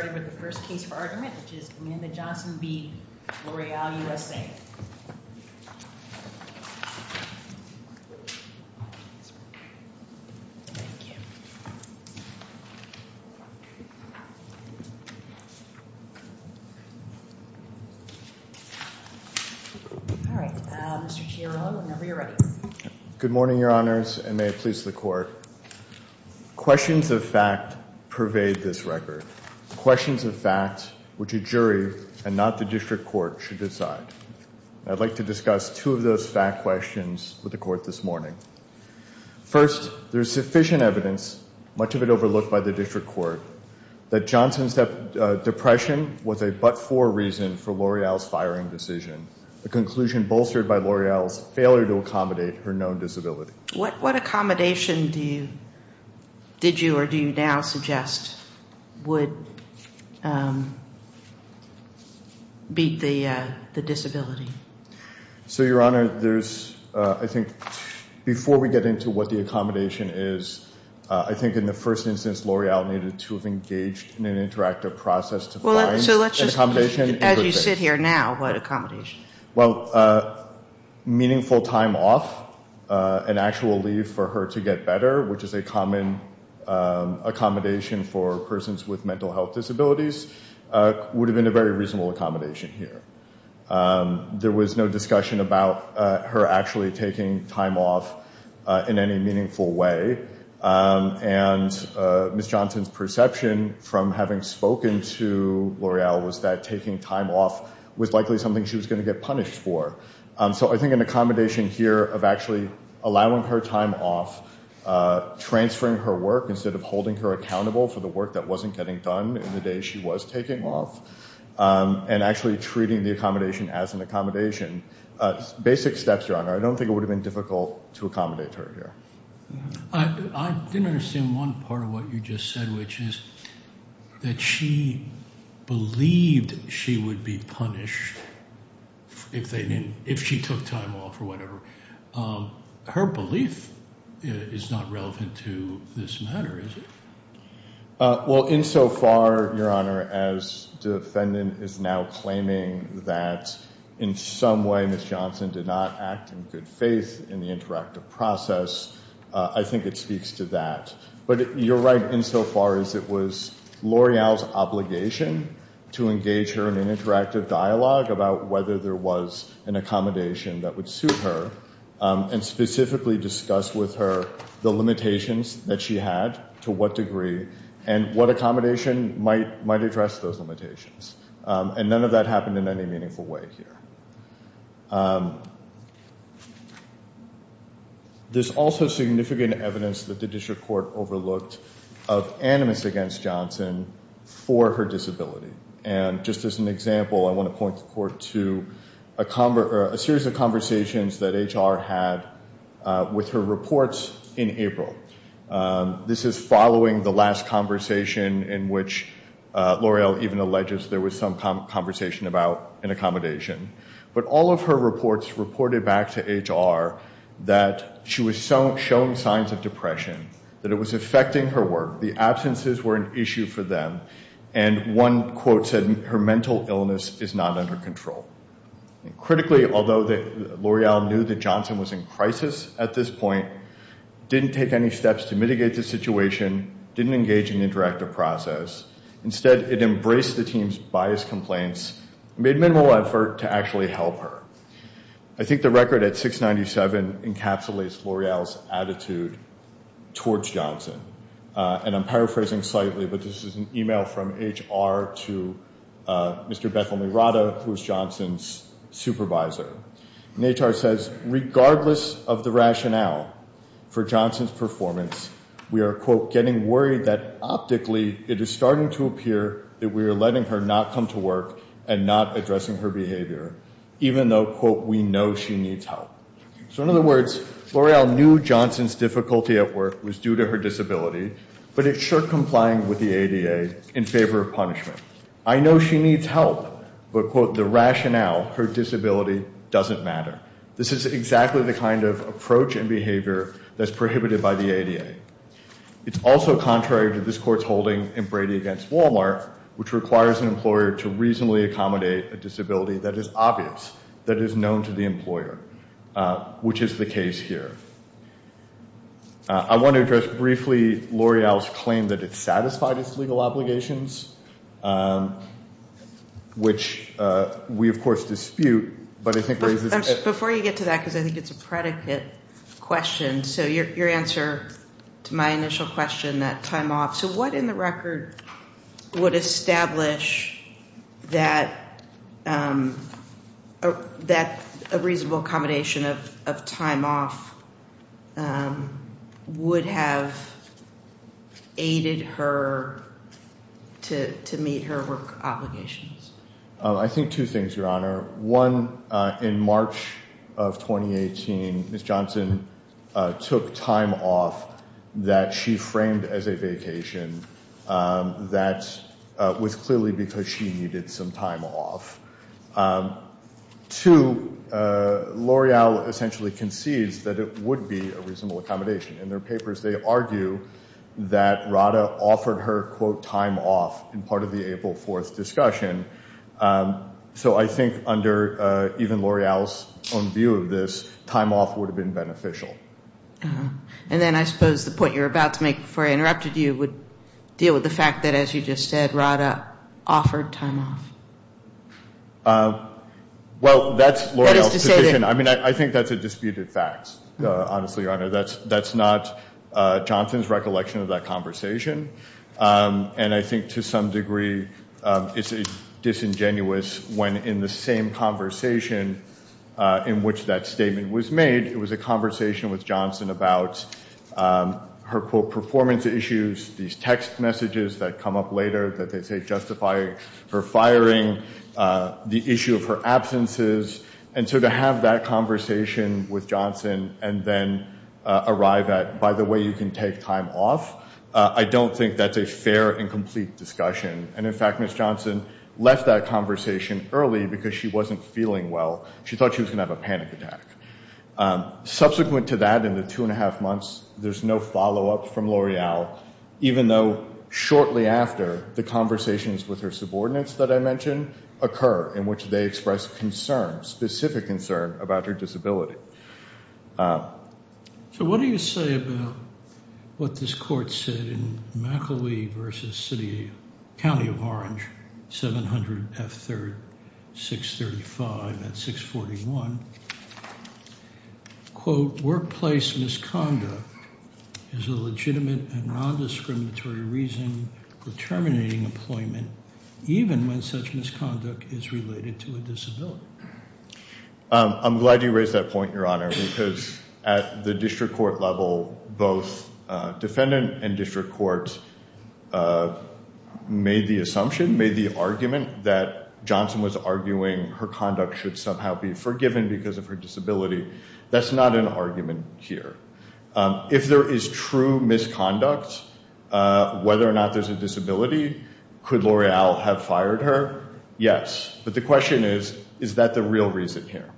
We'll start with the first case for argument, which is Amanda Johnson v. L'Oreal USA. All right, Mr. Chiarone, whenever you're ready. Good morning, Your Honors, and may it please the Court. Questions of fact pervade this record. Questions of fact which a jury and not the district court should decide. I'd like to discuss two of those fact questions with the Court this morning. First, there's sufficient evidence, much of it overlooked by the district court, that Johnson's depression was a but-for reason for L'Oreal's firing decision, a conclusion bolstered by L'Oreal's failure to accommodate her known disability. What accommodation did you or do you now suggest would beat the disability? So, Your Honor, I think before we get into what the accommodation is, I think in the first instance L'Oreal needed to have engaged in an interactive process to find an accommodation. As you sit here now, what accommodation? Well, meaningful time off, an actual leave for her to get better, which is a common accommodation for persons with mental health disabilities, would have been a very reasonable accommodation here. There was no discussion about her actually taking time off in any meaningful way, and Ms. Johnson's perception from having spoken to L'Oreal was that So I think an accommodation here of actually allowing her time off, transferring her work instead of holding her accountable for the work that wasn't getting done in the days she was taking off, and actually treating the accommodation as an accommodation, basic steps, Your Honor. I don't think it would have been difficult to accommodate her here. I didn't understand one part of what you just said, which is that she believed she would be punished if she took time off or whatever. Her belief is not relevant to this matter, is it? Well, insofar, Your Honor, as the defendant is now claiming that in some way Ms. Johnson did not act in good faith in the interactive process, I think it speaks to that. But you're right insofar as it was L'Oreal's obligation to engage her in an interactive dialogue about whether there was an accommodation that would suit her, and specifically discuss with her the limitations that she had, to what degree, and what accommodation might address those limitations. And none of that happened in any meaningful way here. There's also significant evidence that the district court overlooked of animus against Johnson for her disability. And just as an example, I want to point the court to a series of conversations that HR had with her reports in April. This is following the last conversation in which L'Oreal even alleges there was some conversation about an accommodation. But all of her reports reported back to HR that she was showing signs of depression, that it was affecting her work, the absences were an issue for them, and one quote said her mental illness is not under control. Critically, although L'Oreal knew that Johnson was in crisis at this point, didn't take any steps to mitigate the situation, didn't engage in the interactive process. Instead, it embraced the team's biased complaints, made minimal effort to actually help her. I think the record at 697 encapsulates L'Oreal's attitude towards Johnson. And I'm paraphrasing slightly, but this is an email from HR to Mr. Bethel-Mirada, who is Johnson's supervisor. And HR says, regardless of the rationale for Johnson's performance, we are, quote, getting worried that optically it is starting to appear that we are letting her not come to work and not addressing her behavior, even though, quote, we know she needs help. So in other words, L'Oreal knew Johnson's difficulty at work was due to her disability, but it's sure complying with the ADA in favor of punishment. I know she needs help, but, quote, the rationale, her disability, doesn't matter. This is exactly the kind of approach and behavior that's prohibited by the ADA. It's also contrary to this Court's holding in Brady v. Walmart, which requires an employer to reasonably accommodate a disability that is obvious, that is known to the employer, which is the case here. I want to address briefly L'Oreal's claim that it satisfied its legal obligations, which we, of course, dispute, but I think raises a question. Before you get to that, because I think it's a predicate question, so your answer to my initial question, that time off, so what in the record would establish that a reasonable accommodation of time off would have aided her to meet her work obligations? I think two things, Your Honor. One, in March of 2018, Ms. Johnson took time off that she framed as a vacation that was clearly because she needed some time off. Two, L'Oreal essentially concedes that it would be a reasonable accommodation. In their papers, they argue that Rada offered her, quote, time off in part of the April 4th discussion. So I think under even L'Oreal's own view of this, time off would have been beneficial. And then I suppose the point you're about to make, before I interrupted you, would deal with the fact that, as you just said, Rada offered time off. Well, that's L'Oreal's position. I mean, I think that's a disputed fact, honestly, Your Honor. That's not Johnson's recollection of that conversation. And I think to some degree it's disingenuous when, in the same conversation in which that statement was made, it was a conversation with Johnson about her, quote, performance issues, these text messages that come up later that they say justify her firing, the issue of her absences. And so to have that conversation with Johnson and then arrive at, by the way, you can take time off, I don't think that's a fair and complete discussion. And, in fact, Ms. Johnson left that conversation early because she wasn't feeling well. She thought she was going to have a panic attack. Subsequent to that, in the two and a half months, there's no follow-up from L'Oreal, even though shortly after, the conversations with her subordinates that I mentioned occur, in which they express concern, specific concern, about her disability. So what do you say about what this court said in McElwee v. City, County of Orange, 700 F. 3rd, 635 at 641? Quote, workplace misconduct is a legitimate and nondiscriminatory reason for terminating employment, even when such misconduct is related to a disability. I'm glad you raised that point, Your Honor, because at the district court level, both defendant and district court made the assumption, made the argument, that Johnson was arguing her conduct should somehow be forgiven because of her disability. That's not an argument here. If there is true misconduct, whether or not there's a disability, could L'Oreal have fired her? Yes, but the question is, is that the real reason here?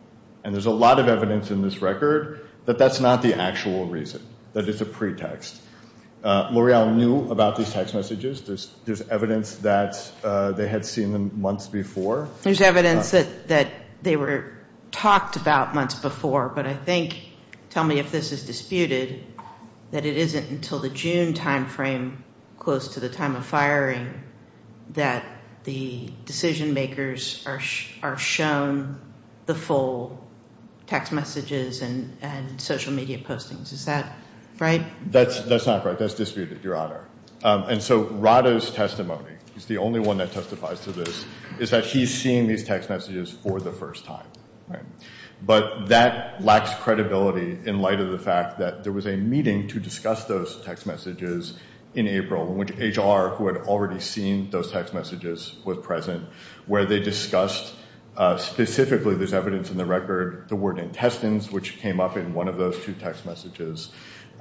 And there's a lot of evidence in this record that that's not the actual reason, that it's a pretext. L'Oreal knew about these text messages. There's evidence that they had seen them months before. There's evidence that they were talked about months before, but I think, tell me if this is disputed, that it isn't until the June time frame, close to the time of firing, that the decision makers are shown the full text messages and social media postings. Is that right? That's not right. That's disputed, Your Honor. And so Rado's testimony, he's the only one that testifies to this, is that he's seen these text messages for the first time. But that lacks credibility in light of the fact that there was a meeting to discuss those text messages in April, in which HR, who had already seen those text messages, was present, where they discussed specifically, there's evidence in the record, the word intestines, which came up in one of those two text messages.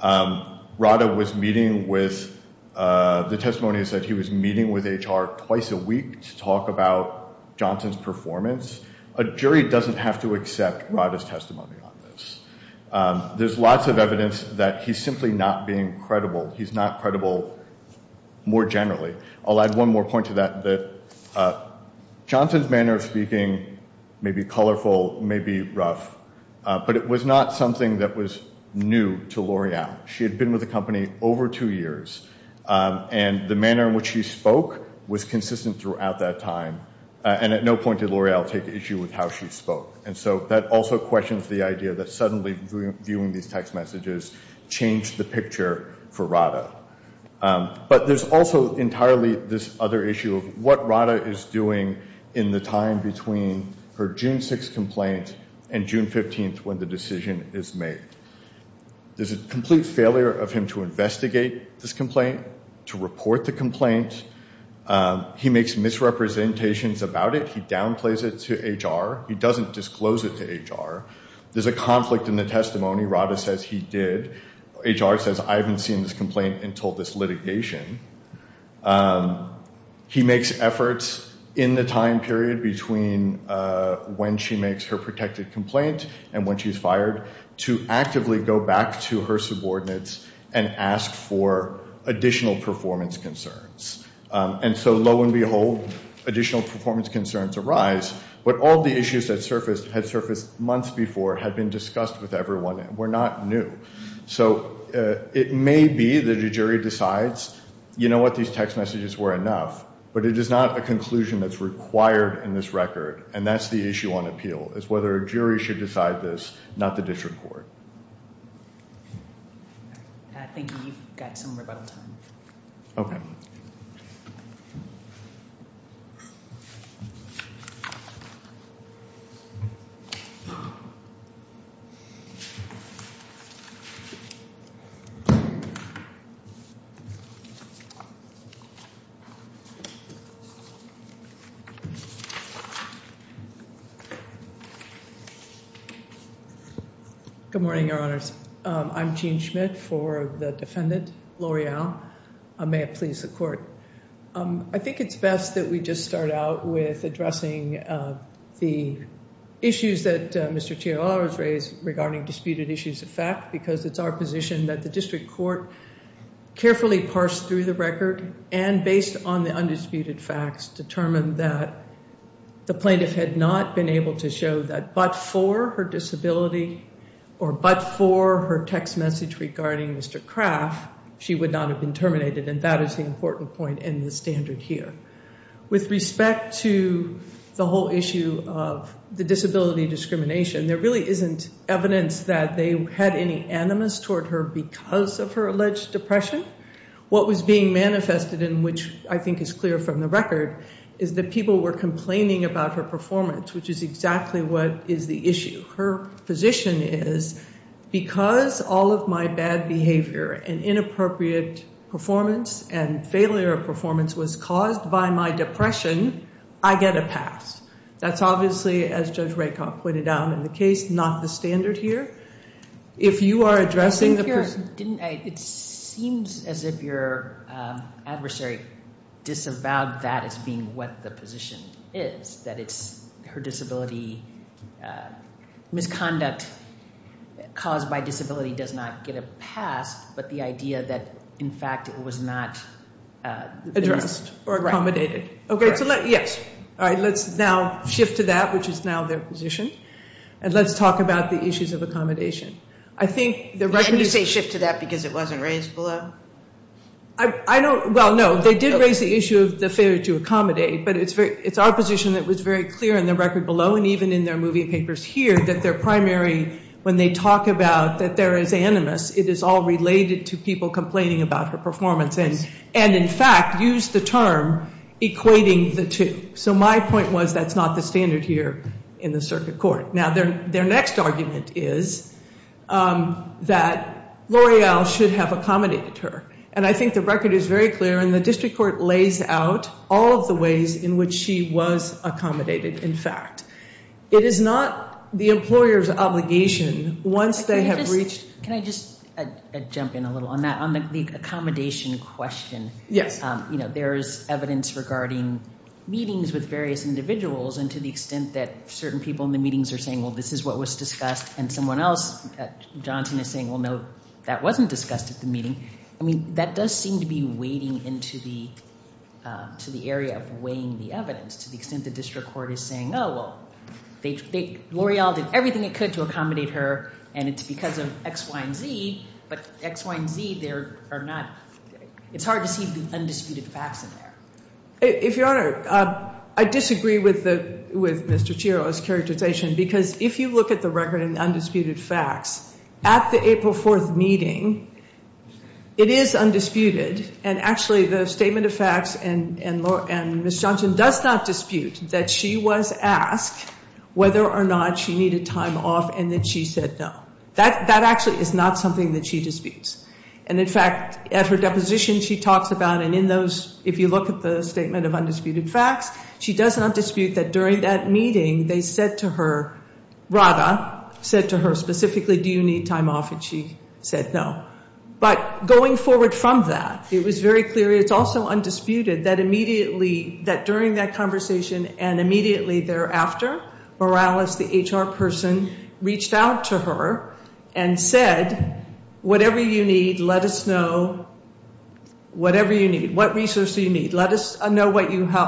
Rado was meeting with, the testimony said he was meeting with HR twice a week to talk about Johnson's performance. A jury doesn't have to accept Rado's testimony on this. There's lots of evidence that he's simply not being credible. He's not credible more generally. I'll add one more point to that, that Johnson's manner of speaking may be colorful, may be rough, but it was not something that was new to L'Oreal. She had been with the company over two years, and the manner in which she spoke was consistent throughout that time, and at no point did L'Oreal take issue with how she spoke. And so that also questions the idea that suddenly viewing these text messages changed the picture for Rado. But there's also entirely this other issue of what Rado is doing in the time between her June 6 complaint and June 15 when the decision is made. There's a complete failure of him to investigate this complaint, to report the complaint. He makes misrepresentations about it. He downplays it to HR. He doesn't disclose it to HR. There's a conflict in the testimony. Rado says he did. HR says, I haven't seen this complaint until this litigation. He makes efforts in the time period between when she makes her protected complaint and when she's fired to actively go back to her subordinates and ask for additional performance concerns. And so lo and behold, additional performance concerns arise, but all the issues that had surfaced months before had been discussed with everyone and were not new. So it may be that a jury decides, you know what, these text messages were enough, but it is not a conclusion that's required in this record, and that's the issue on appeal is whether a jury should decide this, not the district court. I think we've got some rebuttal time. Okay. Thank you. Good morning, Your Honors. I'm Jean Schmidt for the defendant, L'Oreal. May it please the court. I think it's best that we just start out with addressing the issues that Mr. Chiaro has raised regarding disputed issues of fact, because it's our position that the district court carefully parsed through the record and based on the undisputed facts determined that the plaintiff had not been able to show that but for her disability or but for her text message regarding Mr. Craft, she would not have been terminated, and that is the important point in the standard here. With respect to the whole issue of the disability discrimination, there really isn't evidence that they had any animus toward her because of her alleged depression. What was being manifested in which I think is clear from the record is that people were complaining about her performance, which is exactly what is the issue. Her position is because all of my bad behavior and inappropriate performance and failure of performance was caused by my depression, I get a pass. That's obviously, as Judge Rakoff pointed out in the case, not the standard here. If you are addressing the person. It seems as if your adversary disavowed that as being what the position is, that it's her disability misconduct caused by disability does not get a pass, but the idea that in fact it was not addressed or accommodated. Okay, so let's now shift to that, which is now their position, and let's talk about the issues of accommodation. Can you say shift to that because it wasn't raised below? Well, no, they did raise the issue of the failure to accommodate, but it's our position that was very clear in the record below and even in their movie papers here that their primary, when they talk about that there is animus, it is all related to people complaining about her performance and in fact used the term equating the two. So my point was that's not the standard here in the circuit court. Now their next argument is that L'Oreal should have accommodated her, and I think the record is very clear, and the district court lays out all of the ways in which she was accommodated in fact. It is not the employer's obligation once they have reached. Can I just jump in a little on that, on the accommodation question? Yes. There is evidence regarding meetings with various individuals and to the extent that certain people in the meetings are saying, well, this is what was discussed, and someone else, Johnson, is saying, well, no, that wasn't discussed at the meeting. I mean, that does seem to be wading into the area of weighing the evidence to the extent the district court is saying, oh, well, L'Oreal did everything it could to accommodate her, and it's because of X, Y, and Z, but X, Y, and Z there are not, it's hard to see the undisputed facts in there. If Your Honor, I disagree with Mr. Chiro's characterization because if you look at the record and the undisputed facts, at the April 4th meeting, it is undisputed, and actually the statement of facts and Ms. Johnson does not dispute that she was asked whether or not she needed time off and that she said no. That actually is not something that she disputes. And, in fact, at her deposition she talks about, and if you look at the statement of undisputed facts, she does not dispute that during that meeting they said to her, Rada said to her specifically, do you need time off, and she said no. But going forward from that, it was very clear, it's also undisputed that immediately, that during that conversation and immediately thereafter, Morales, the HR person, reached out to her and said, whatever you need, let us know, whatever you need, what resources you need, let us know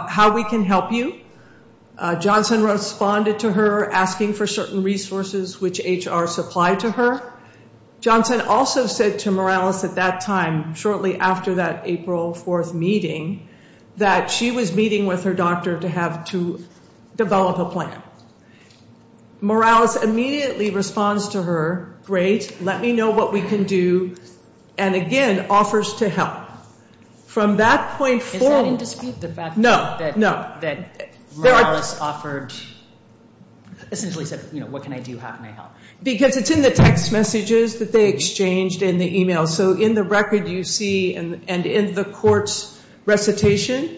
how we can help you. Johnson responded to her asking for certain resources which HR supplied to her. Johnson also said to Morales at that time, shortly after that April 4th meeting, that she was meeting with her doctor to have to develop a plan. Morales immediately responds to her, great, let me know what we can do, and again offers to help. Is that in dispute, the fact that Morales offered, essentially said, what can I do, how can I help? Because it's in the text messages that they exchanged in the email, so in the record you see, and in the court's recitation,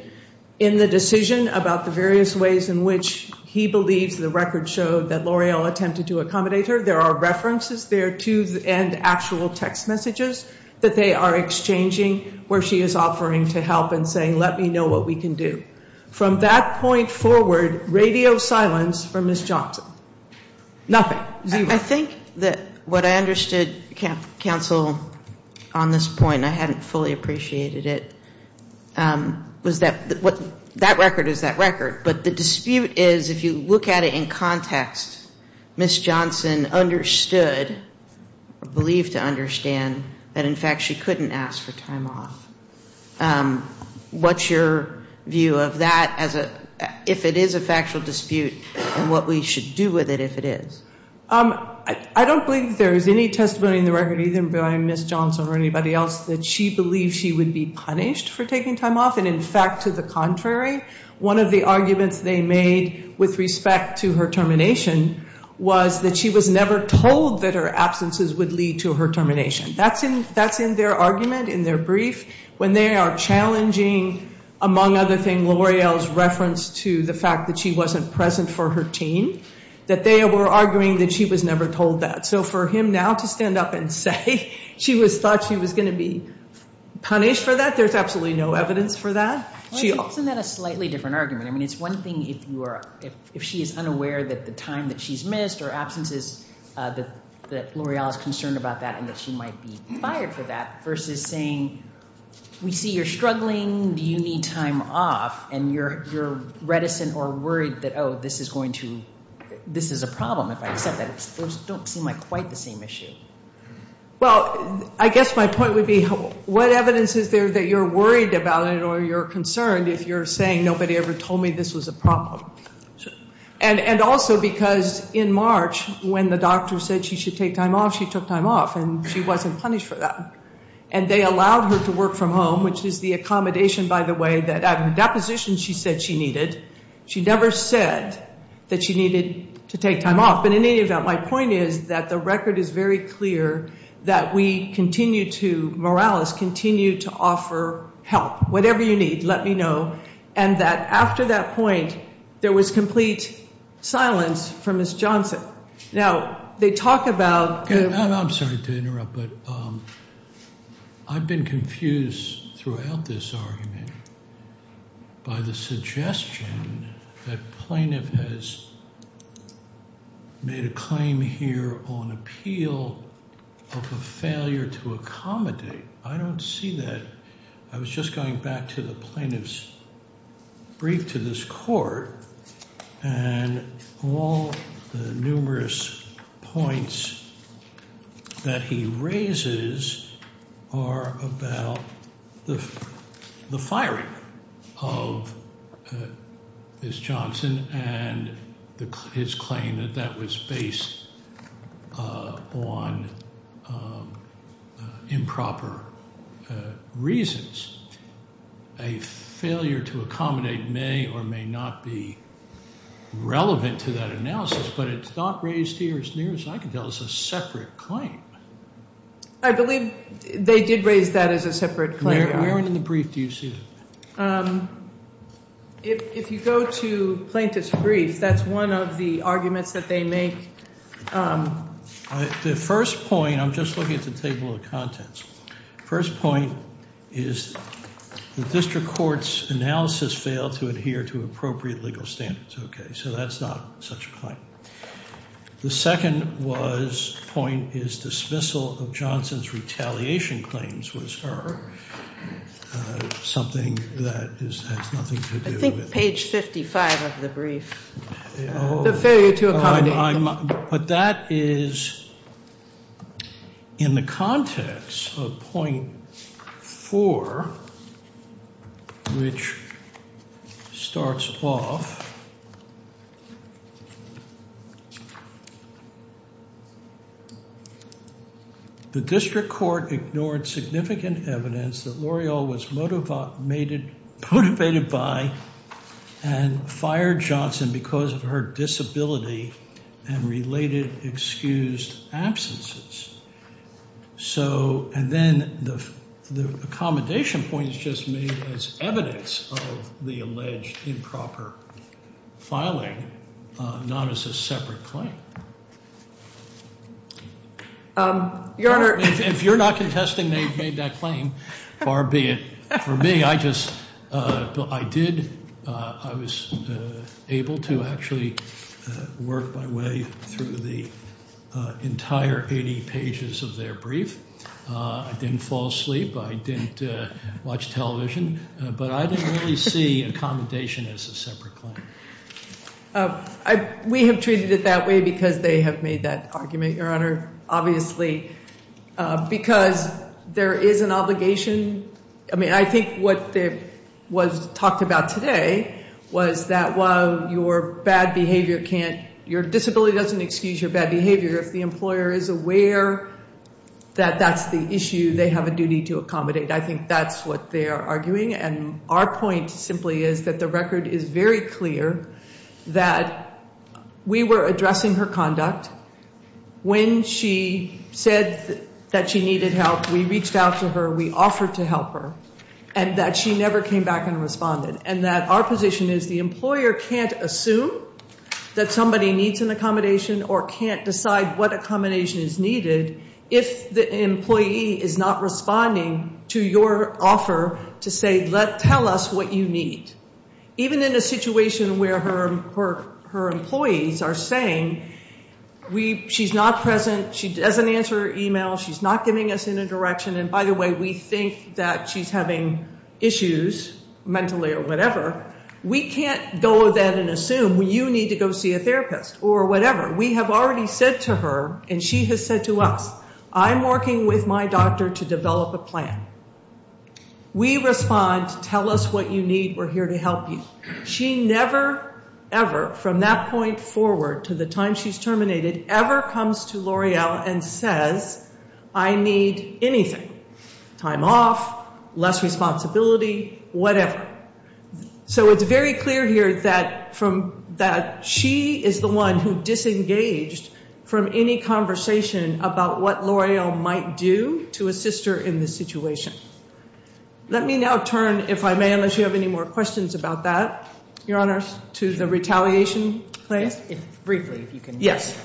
in the decision about the various ways in which he believes the record showed that L'Oreal attempted to accommodate her, there are references there too, and actual text messages that they are exchanging where she is offering to help and saying let me know what we can do. From that point forward, radio silence from Ms. Johnson, nothing, zero. I think that what I understood, counsel, on this point, I hadn't fully appreciated it, was that that record is that record, but the dispute is if you look at it in context, Ms. Johnson understood, believed to understand, that in fact she couldn't ask for time off. What's your view of that as a, if it is a factual dispute, and what we should do with it if it is? I don't believe there is any testimony in the record, either by Ms. Johnson or anybody else, that she believed she would be punished for taking time off, and in fact, to the contrary, one of the arguments they made with respect to her termination was that she was never told that her absences would lead to her termination. That's in their argument, in their brief, when they are challenging, among other things, L'Oreal's reference to the fact that she wasn't present for her team, that they were arguing that she was never told that. So for him now to stand up and say she thought she was going to be punished for that, there is absolutely no evidence for that. Isn't that a slightly different argument? I mean, it's one thing if she is unaware that the time that she's missed or absences, that L'Oreal is concerned about that and that she might be fired for that, versus saying, we see you're struggling, do you need time off, and you're reticent or worried that, oh, this is going to, this is a problem, if I accept that. Those don't seem like quite the same issue. Well, I guess my point would be what evidence is there that you're worried about it or you're concerned if you're saying nobody ever told me this was a problem. And also because in March, when the doctor said she should take time off, she took time off, and she wasn't punished for that. And they allowed her to work from home, which is the accommodation, by the way, that at the deposition she said she needed. She never said that she needed to take time off. And in any event, my point is that the record is very clear that we continue to, Morales continued to offer help, whatever you need, let me know, and that after that point, there was complete silence for Ms. Johnson. Now, they talk about the – I'm sorry to interrupt, but I've been confused throughout this argument by the suggestion that plaintiff has made a claim here on appeal of a failure to accommodate. I don't see that. I was just going back to the plaintiff's brief to this court, and all the numerous points that he raises are about the firing of Ms. Johnson and his claim that that was based on improper reasons. A failure to accommodate may or may not be relevant to that analysis, but it's not raised here as near as I can tell as a separate claim. I believe they did raise that as a separate claim. Where in the brief do you see that? If you go to plaintiff's brief, that's one of the arguments that they make. The first point – I'm just looking at the table of contents. The first point is the district court's analysis failed to adhere to appropriate legal standards. Okay, so that's not such a claim. The second point is dismissal of Johnson's retaliation claims was something that has nothing to do with it. I think page 55 of the brief. The failure to accommodate. But that is in the context of point four, which starts off. The district court ignored significant evidence that L'Oreal was motivated by and fired Johnson because of her disability and related excused absences. So – and then the accommodation point is just made as evidence of the alleged improper filing, not as a separate claim. Your Honor – If you're not contesting they've made that claim, far be it. For me, I just – I did – I was able to actually work my way through the entire 80 pages of their brief. I didn't fall asleep. I didn't watch television. But I didn't really see accommodation as a separate claim. We have treated it that way because they have made that argument, Your Honor. Obviously, because there is an obligation. I mean, I think what was talked about today was that while your bad behavior can't – your disability doesn't excuse your bad behavior. If the employer is aware that that's the issue, they have a duty to accommodate. I think that's what they are arguing. And our point simply is that the record is very clear that we were addressing her conduct. When she said that she needed help, we reached out to her. We offered to help her. And that she never came back and responded. And that our position is the employer can't assume that somebody needs an accommodation or can't decide what accommodation is needed if the employee is not responding to your offer to say, tell us what you need. Even in a situation where her employees are saying, she's not present. She doesn't answer her email. She's not giving us any direction. And by the way, we think that she's having issues mentally or whatever. We can't go then and assume you need to go see a therapist or whatever. We have already said to her, and she has said to us, I'm working with my doctor to develop a plan. We respond, tell us what you need. We're here to help you. She never, ever, from that point forward to the time she's terminated, ever comes to L'Oreal and says, I need anything. Time off, less responsibility, whatever. So it's very clear here that she is the one who disengaged from any conversation about what L'Oreal might do to assist her in this situation. Let me now turn, if I may, unless you have any more questions about that, Your Honor, to the retaliation claim. Briefly, if you can. Yes.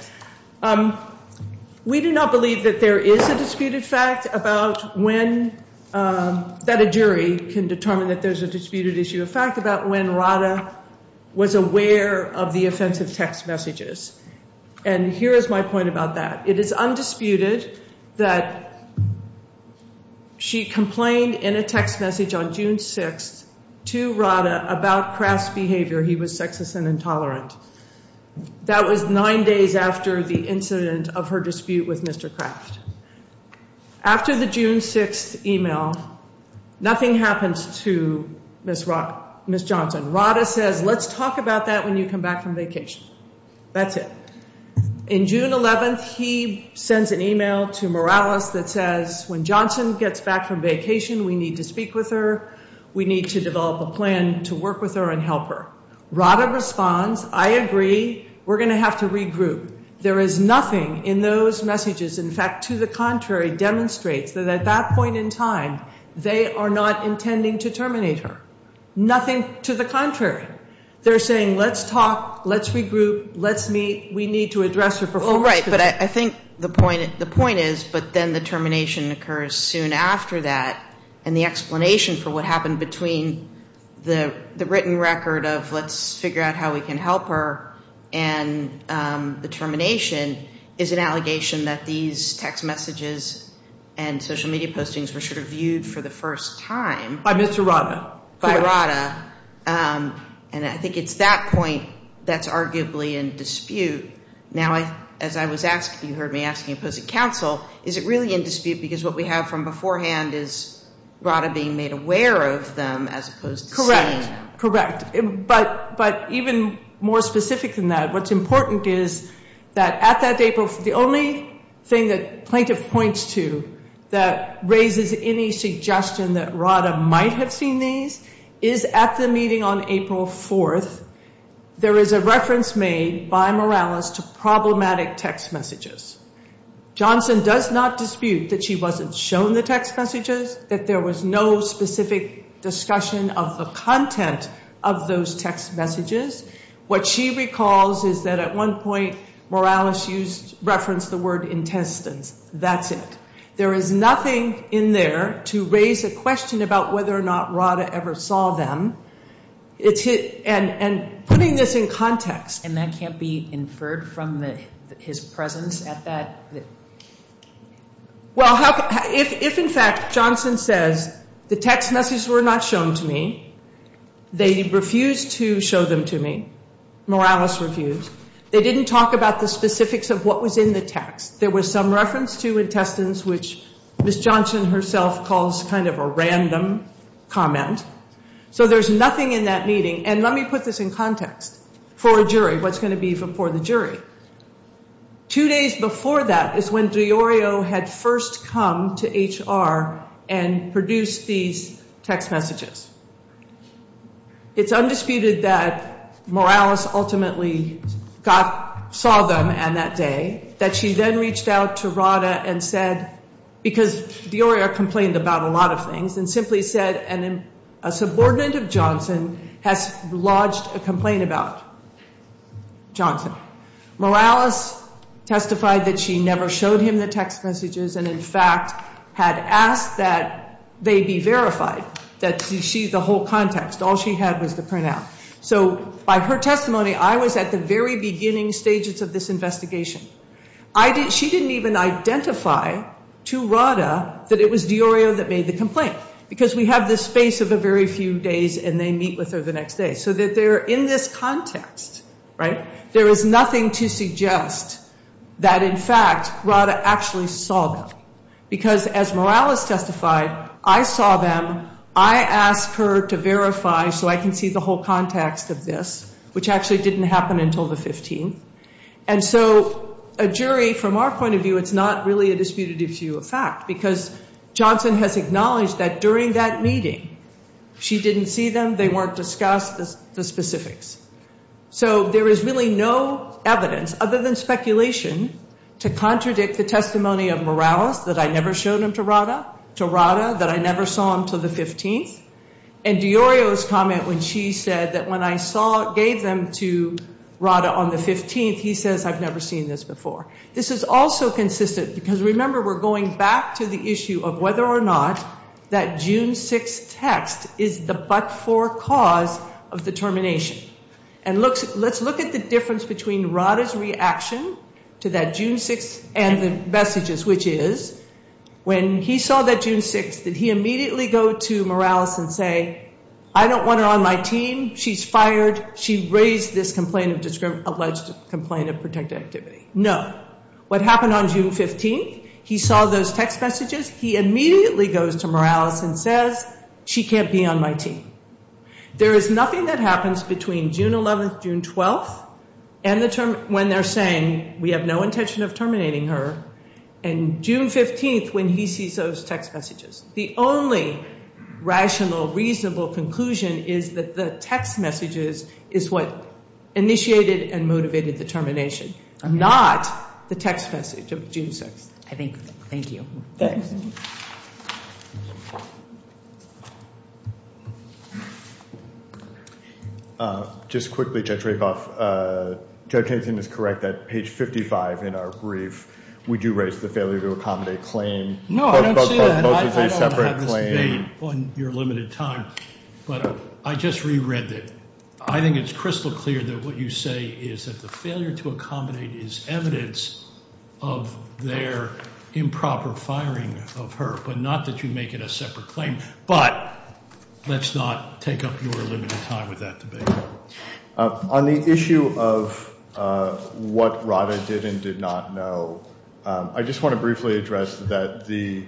We do not believe that there is a disputed fact about when, that a jury can determine that there's a disputed issue, a fact about when Radha was aware of the offensive text messages. And here is my point about that. It is undisputed that she complained in a text message on June 6th to Radha about crass behavior. He was sexist and intolerant. That was nine days after the incident of her dispute with Mr. Craft. After the June 6th email, nothing happens to Ms. Johnson. Radha says, let's talk about that when you come back from vacation. That's it. In June 11th, he sends an email to Morales that says, when Johnson gets back from vacation, we need to speak with her. We need to develop a plan to work with her and help her. Radha responds, I agree, we're going to have to regroup. There is nothing in those messages, in fact, to the contrary, demonstrates that at that point in time, they are not intending to terminate her. Nothing to the contrary. They're saying, let's talk, let's regroup, let's meet, we need to address her performance. Well, right, but I think the point is, but then the termination occurs soon after that, and the explanation for what happened between the written record of let's figure out how we can help her and the termination is an allegation that these text messages and social media postings were sort of viewed for the first time. By Mr. Radha. By Radha. And I think it's that point that's arguably in dispute. Now, as I was asked, you heard me asking, opposing counsel, is it really in dispute, because what we have from beforehand is Radha being made aware of them as opposed to saying. Correct, correct. But even more specific than that, what's important is that at that date, the only thing that plaintiff points to that raises any suggestion that Radha might have seen these is at the meeting on April 4th, there is a reference made by Morales to problematic text messages. Johnson does not dispute that she wasn't shown the text messages, that there was no specific discussion of the content of those text messages. What she recalls is that at one point, Morales referenced the word intestines. That's it. There is nothing in there to raise a question about whether or not Radha ever saw them. And putting this in context. And that can't be inferred from his presence at that? Well, if in fact Johnson says the text messages were not shown to me, they refused to show them to me, Morales refused. They didn't talk about the specifics of what was in the text. There was some reference to intestines, which Ms. Johnson herself calls kind of a random comment. So there's nothing in that meeting. And let me put this in context for a jury, what's going to be for the jury. Two days before that is when Di Iorio had first come to HR and produced these text messages. It's undisputed that Morales ultimately saw them on that day. That she then reached out to Radha and said, because Di Iorio complained about a lot of things, and simply said a subordinate of Johnson has lodged a complaint about Johnson. Morales testified that she never showed him the text messages and in fact had asked that they be verified. That she, the whole context, all she had was the printout. So by her testimony, I was at the very beginning stages of this investigation. She didn't even identify to Radha that it was Di Iorio that made the complaint. Because we have this space of a very few days and they meet with her the next day. So that they're in this context, right? There is nothing to suggest that in fact Radha actually saw them. Because as Morales testified, I saw them. I asked her to verify so I can see the whole context of this, which actually didn't happen until the 15th. And so a jury, from our point of view, it's not really a disputative view of fact. Because Johnson has acknowledged that during that meeting she didn't see them. They weren't discussed, the specifics. So there is really no evidence other than speculation to contradict the testimony of Morales that I never showed him to Radha. To Radha that I never saw him until the 15th. And Di Iorio's comment when she said that when I gave them to Radha on the 15th, he says I've never seen this before. This is also consistent because remember we're going back to the issue of whether or not that June 6th text is the but-for cause of the termination. And let's look at the difference between Radha's reaction to that June 6th and the messages. Which is, when he saw that June 6th, did he immediately go to Morales and say, I don't want her on my team. She's fired. She raised this alleged complaint of protective activity. No. What happened on June 15th, he saw those text messages. He immediately goes to Morales and says, she can't be on my team. There is nothing that happens between June 11th, June 12th, when they're saying we have no intention of terminating her. And June 15th when he sees those text messages. The only rational, reasonable conclusion is that the text messages is what initiated and motivated the termination. Not the text message of June 6th. I think. Thank you. Thanks. Just quickly, Judge Rakoff. Judge Hanson is correct that page 55 in our brief, we do raise the failure to accommodate claim. No, I don't see that. I don't want to have this debate on your limited time. But I just reread it. I think it's crystal clear that what you say is that the failure to accommodate is evidence of their improper firing of her. But not that you make it a separate claim. But let's not take up your limited time with that debate. On the issue of what Rada did and did not know. I just want to briefly address that the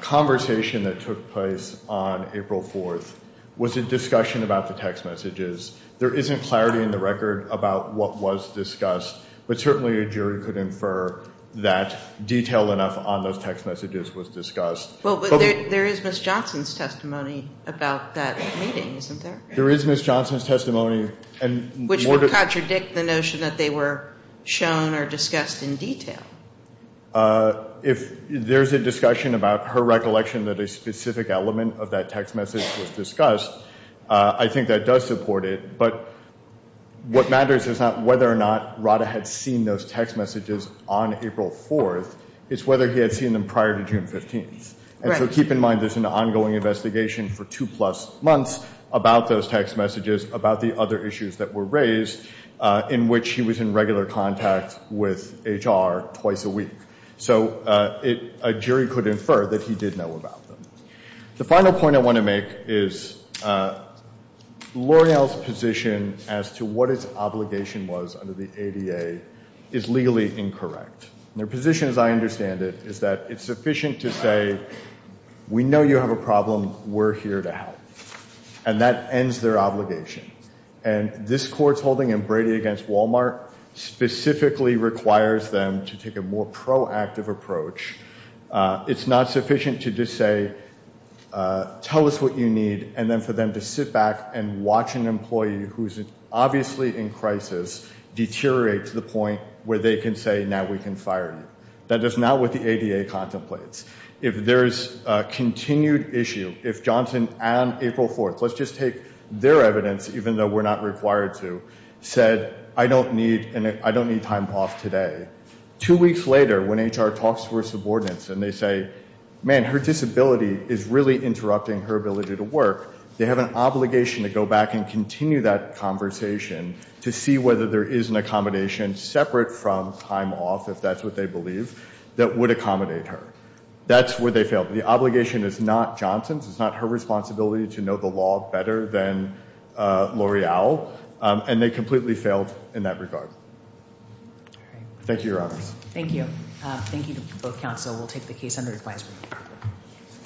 conversation that took place on April 4th was a discussion about the text messages. There isn't clarity in the record about what was discussed. But certainly a jury could infer that detail enough on those text messages was discussed. There is Ms. Johnson's testimony about that meeting, isn't there? There is Ms. Johnson's testimony. Which would contradict the notion that they were shown or discussed in detail. If there's a discussion about her recollection that a specific element of that text message was discussed, I think that does support it. But what matters is not whether or not Rada had seen those text messages on April 4th. It's whether he had seen them prior to June 15th. And so keep in mind there's an ongoing investigation for two-plus months about those text messages, about the other issues that were raised in which he was in regular contact with HR twice a week. So a jury could infer that he did know about them. The final point I want to make is L'Oreal's position as to what its obligation was under the ADA is legally incorrect. Their position, as I understand it, is that it's sufficient to say, we know you have a problem, we're here to help. And that ends their obligation. And this court's holding in Brady against Walmart specifically requires them to take a more proactive approach. It's not sufficient to just say, tell us what you need, and then for them to sit back and watch an employee who's obviously in crisis deteriorate to the point where they can say, now we can fire you. That is not what the ADA contemplates. If there's a continued issue, if Johnson and April 4th, let's just take their evidence, even though we're not required to, said, I don't need time off today. Two weeks later, when HR talks to her subordinates and they say, man, her disability is really interrupting her ability to work, they have an obligation to go back and continue that conversation to see whether there is an accommodation separate from time off, if that's what they believe, that would accommodate her. That's where they failed. The obligation is not Johnson's. It's not her responsibility to know the law better than L'Oreal. And they completely failed in that regard. Thank you, Your Honors. Thank you. Thank you to both counsel. We'll take the case under advisory.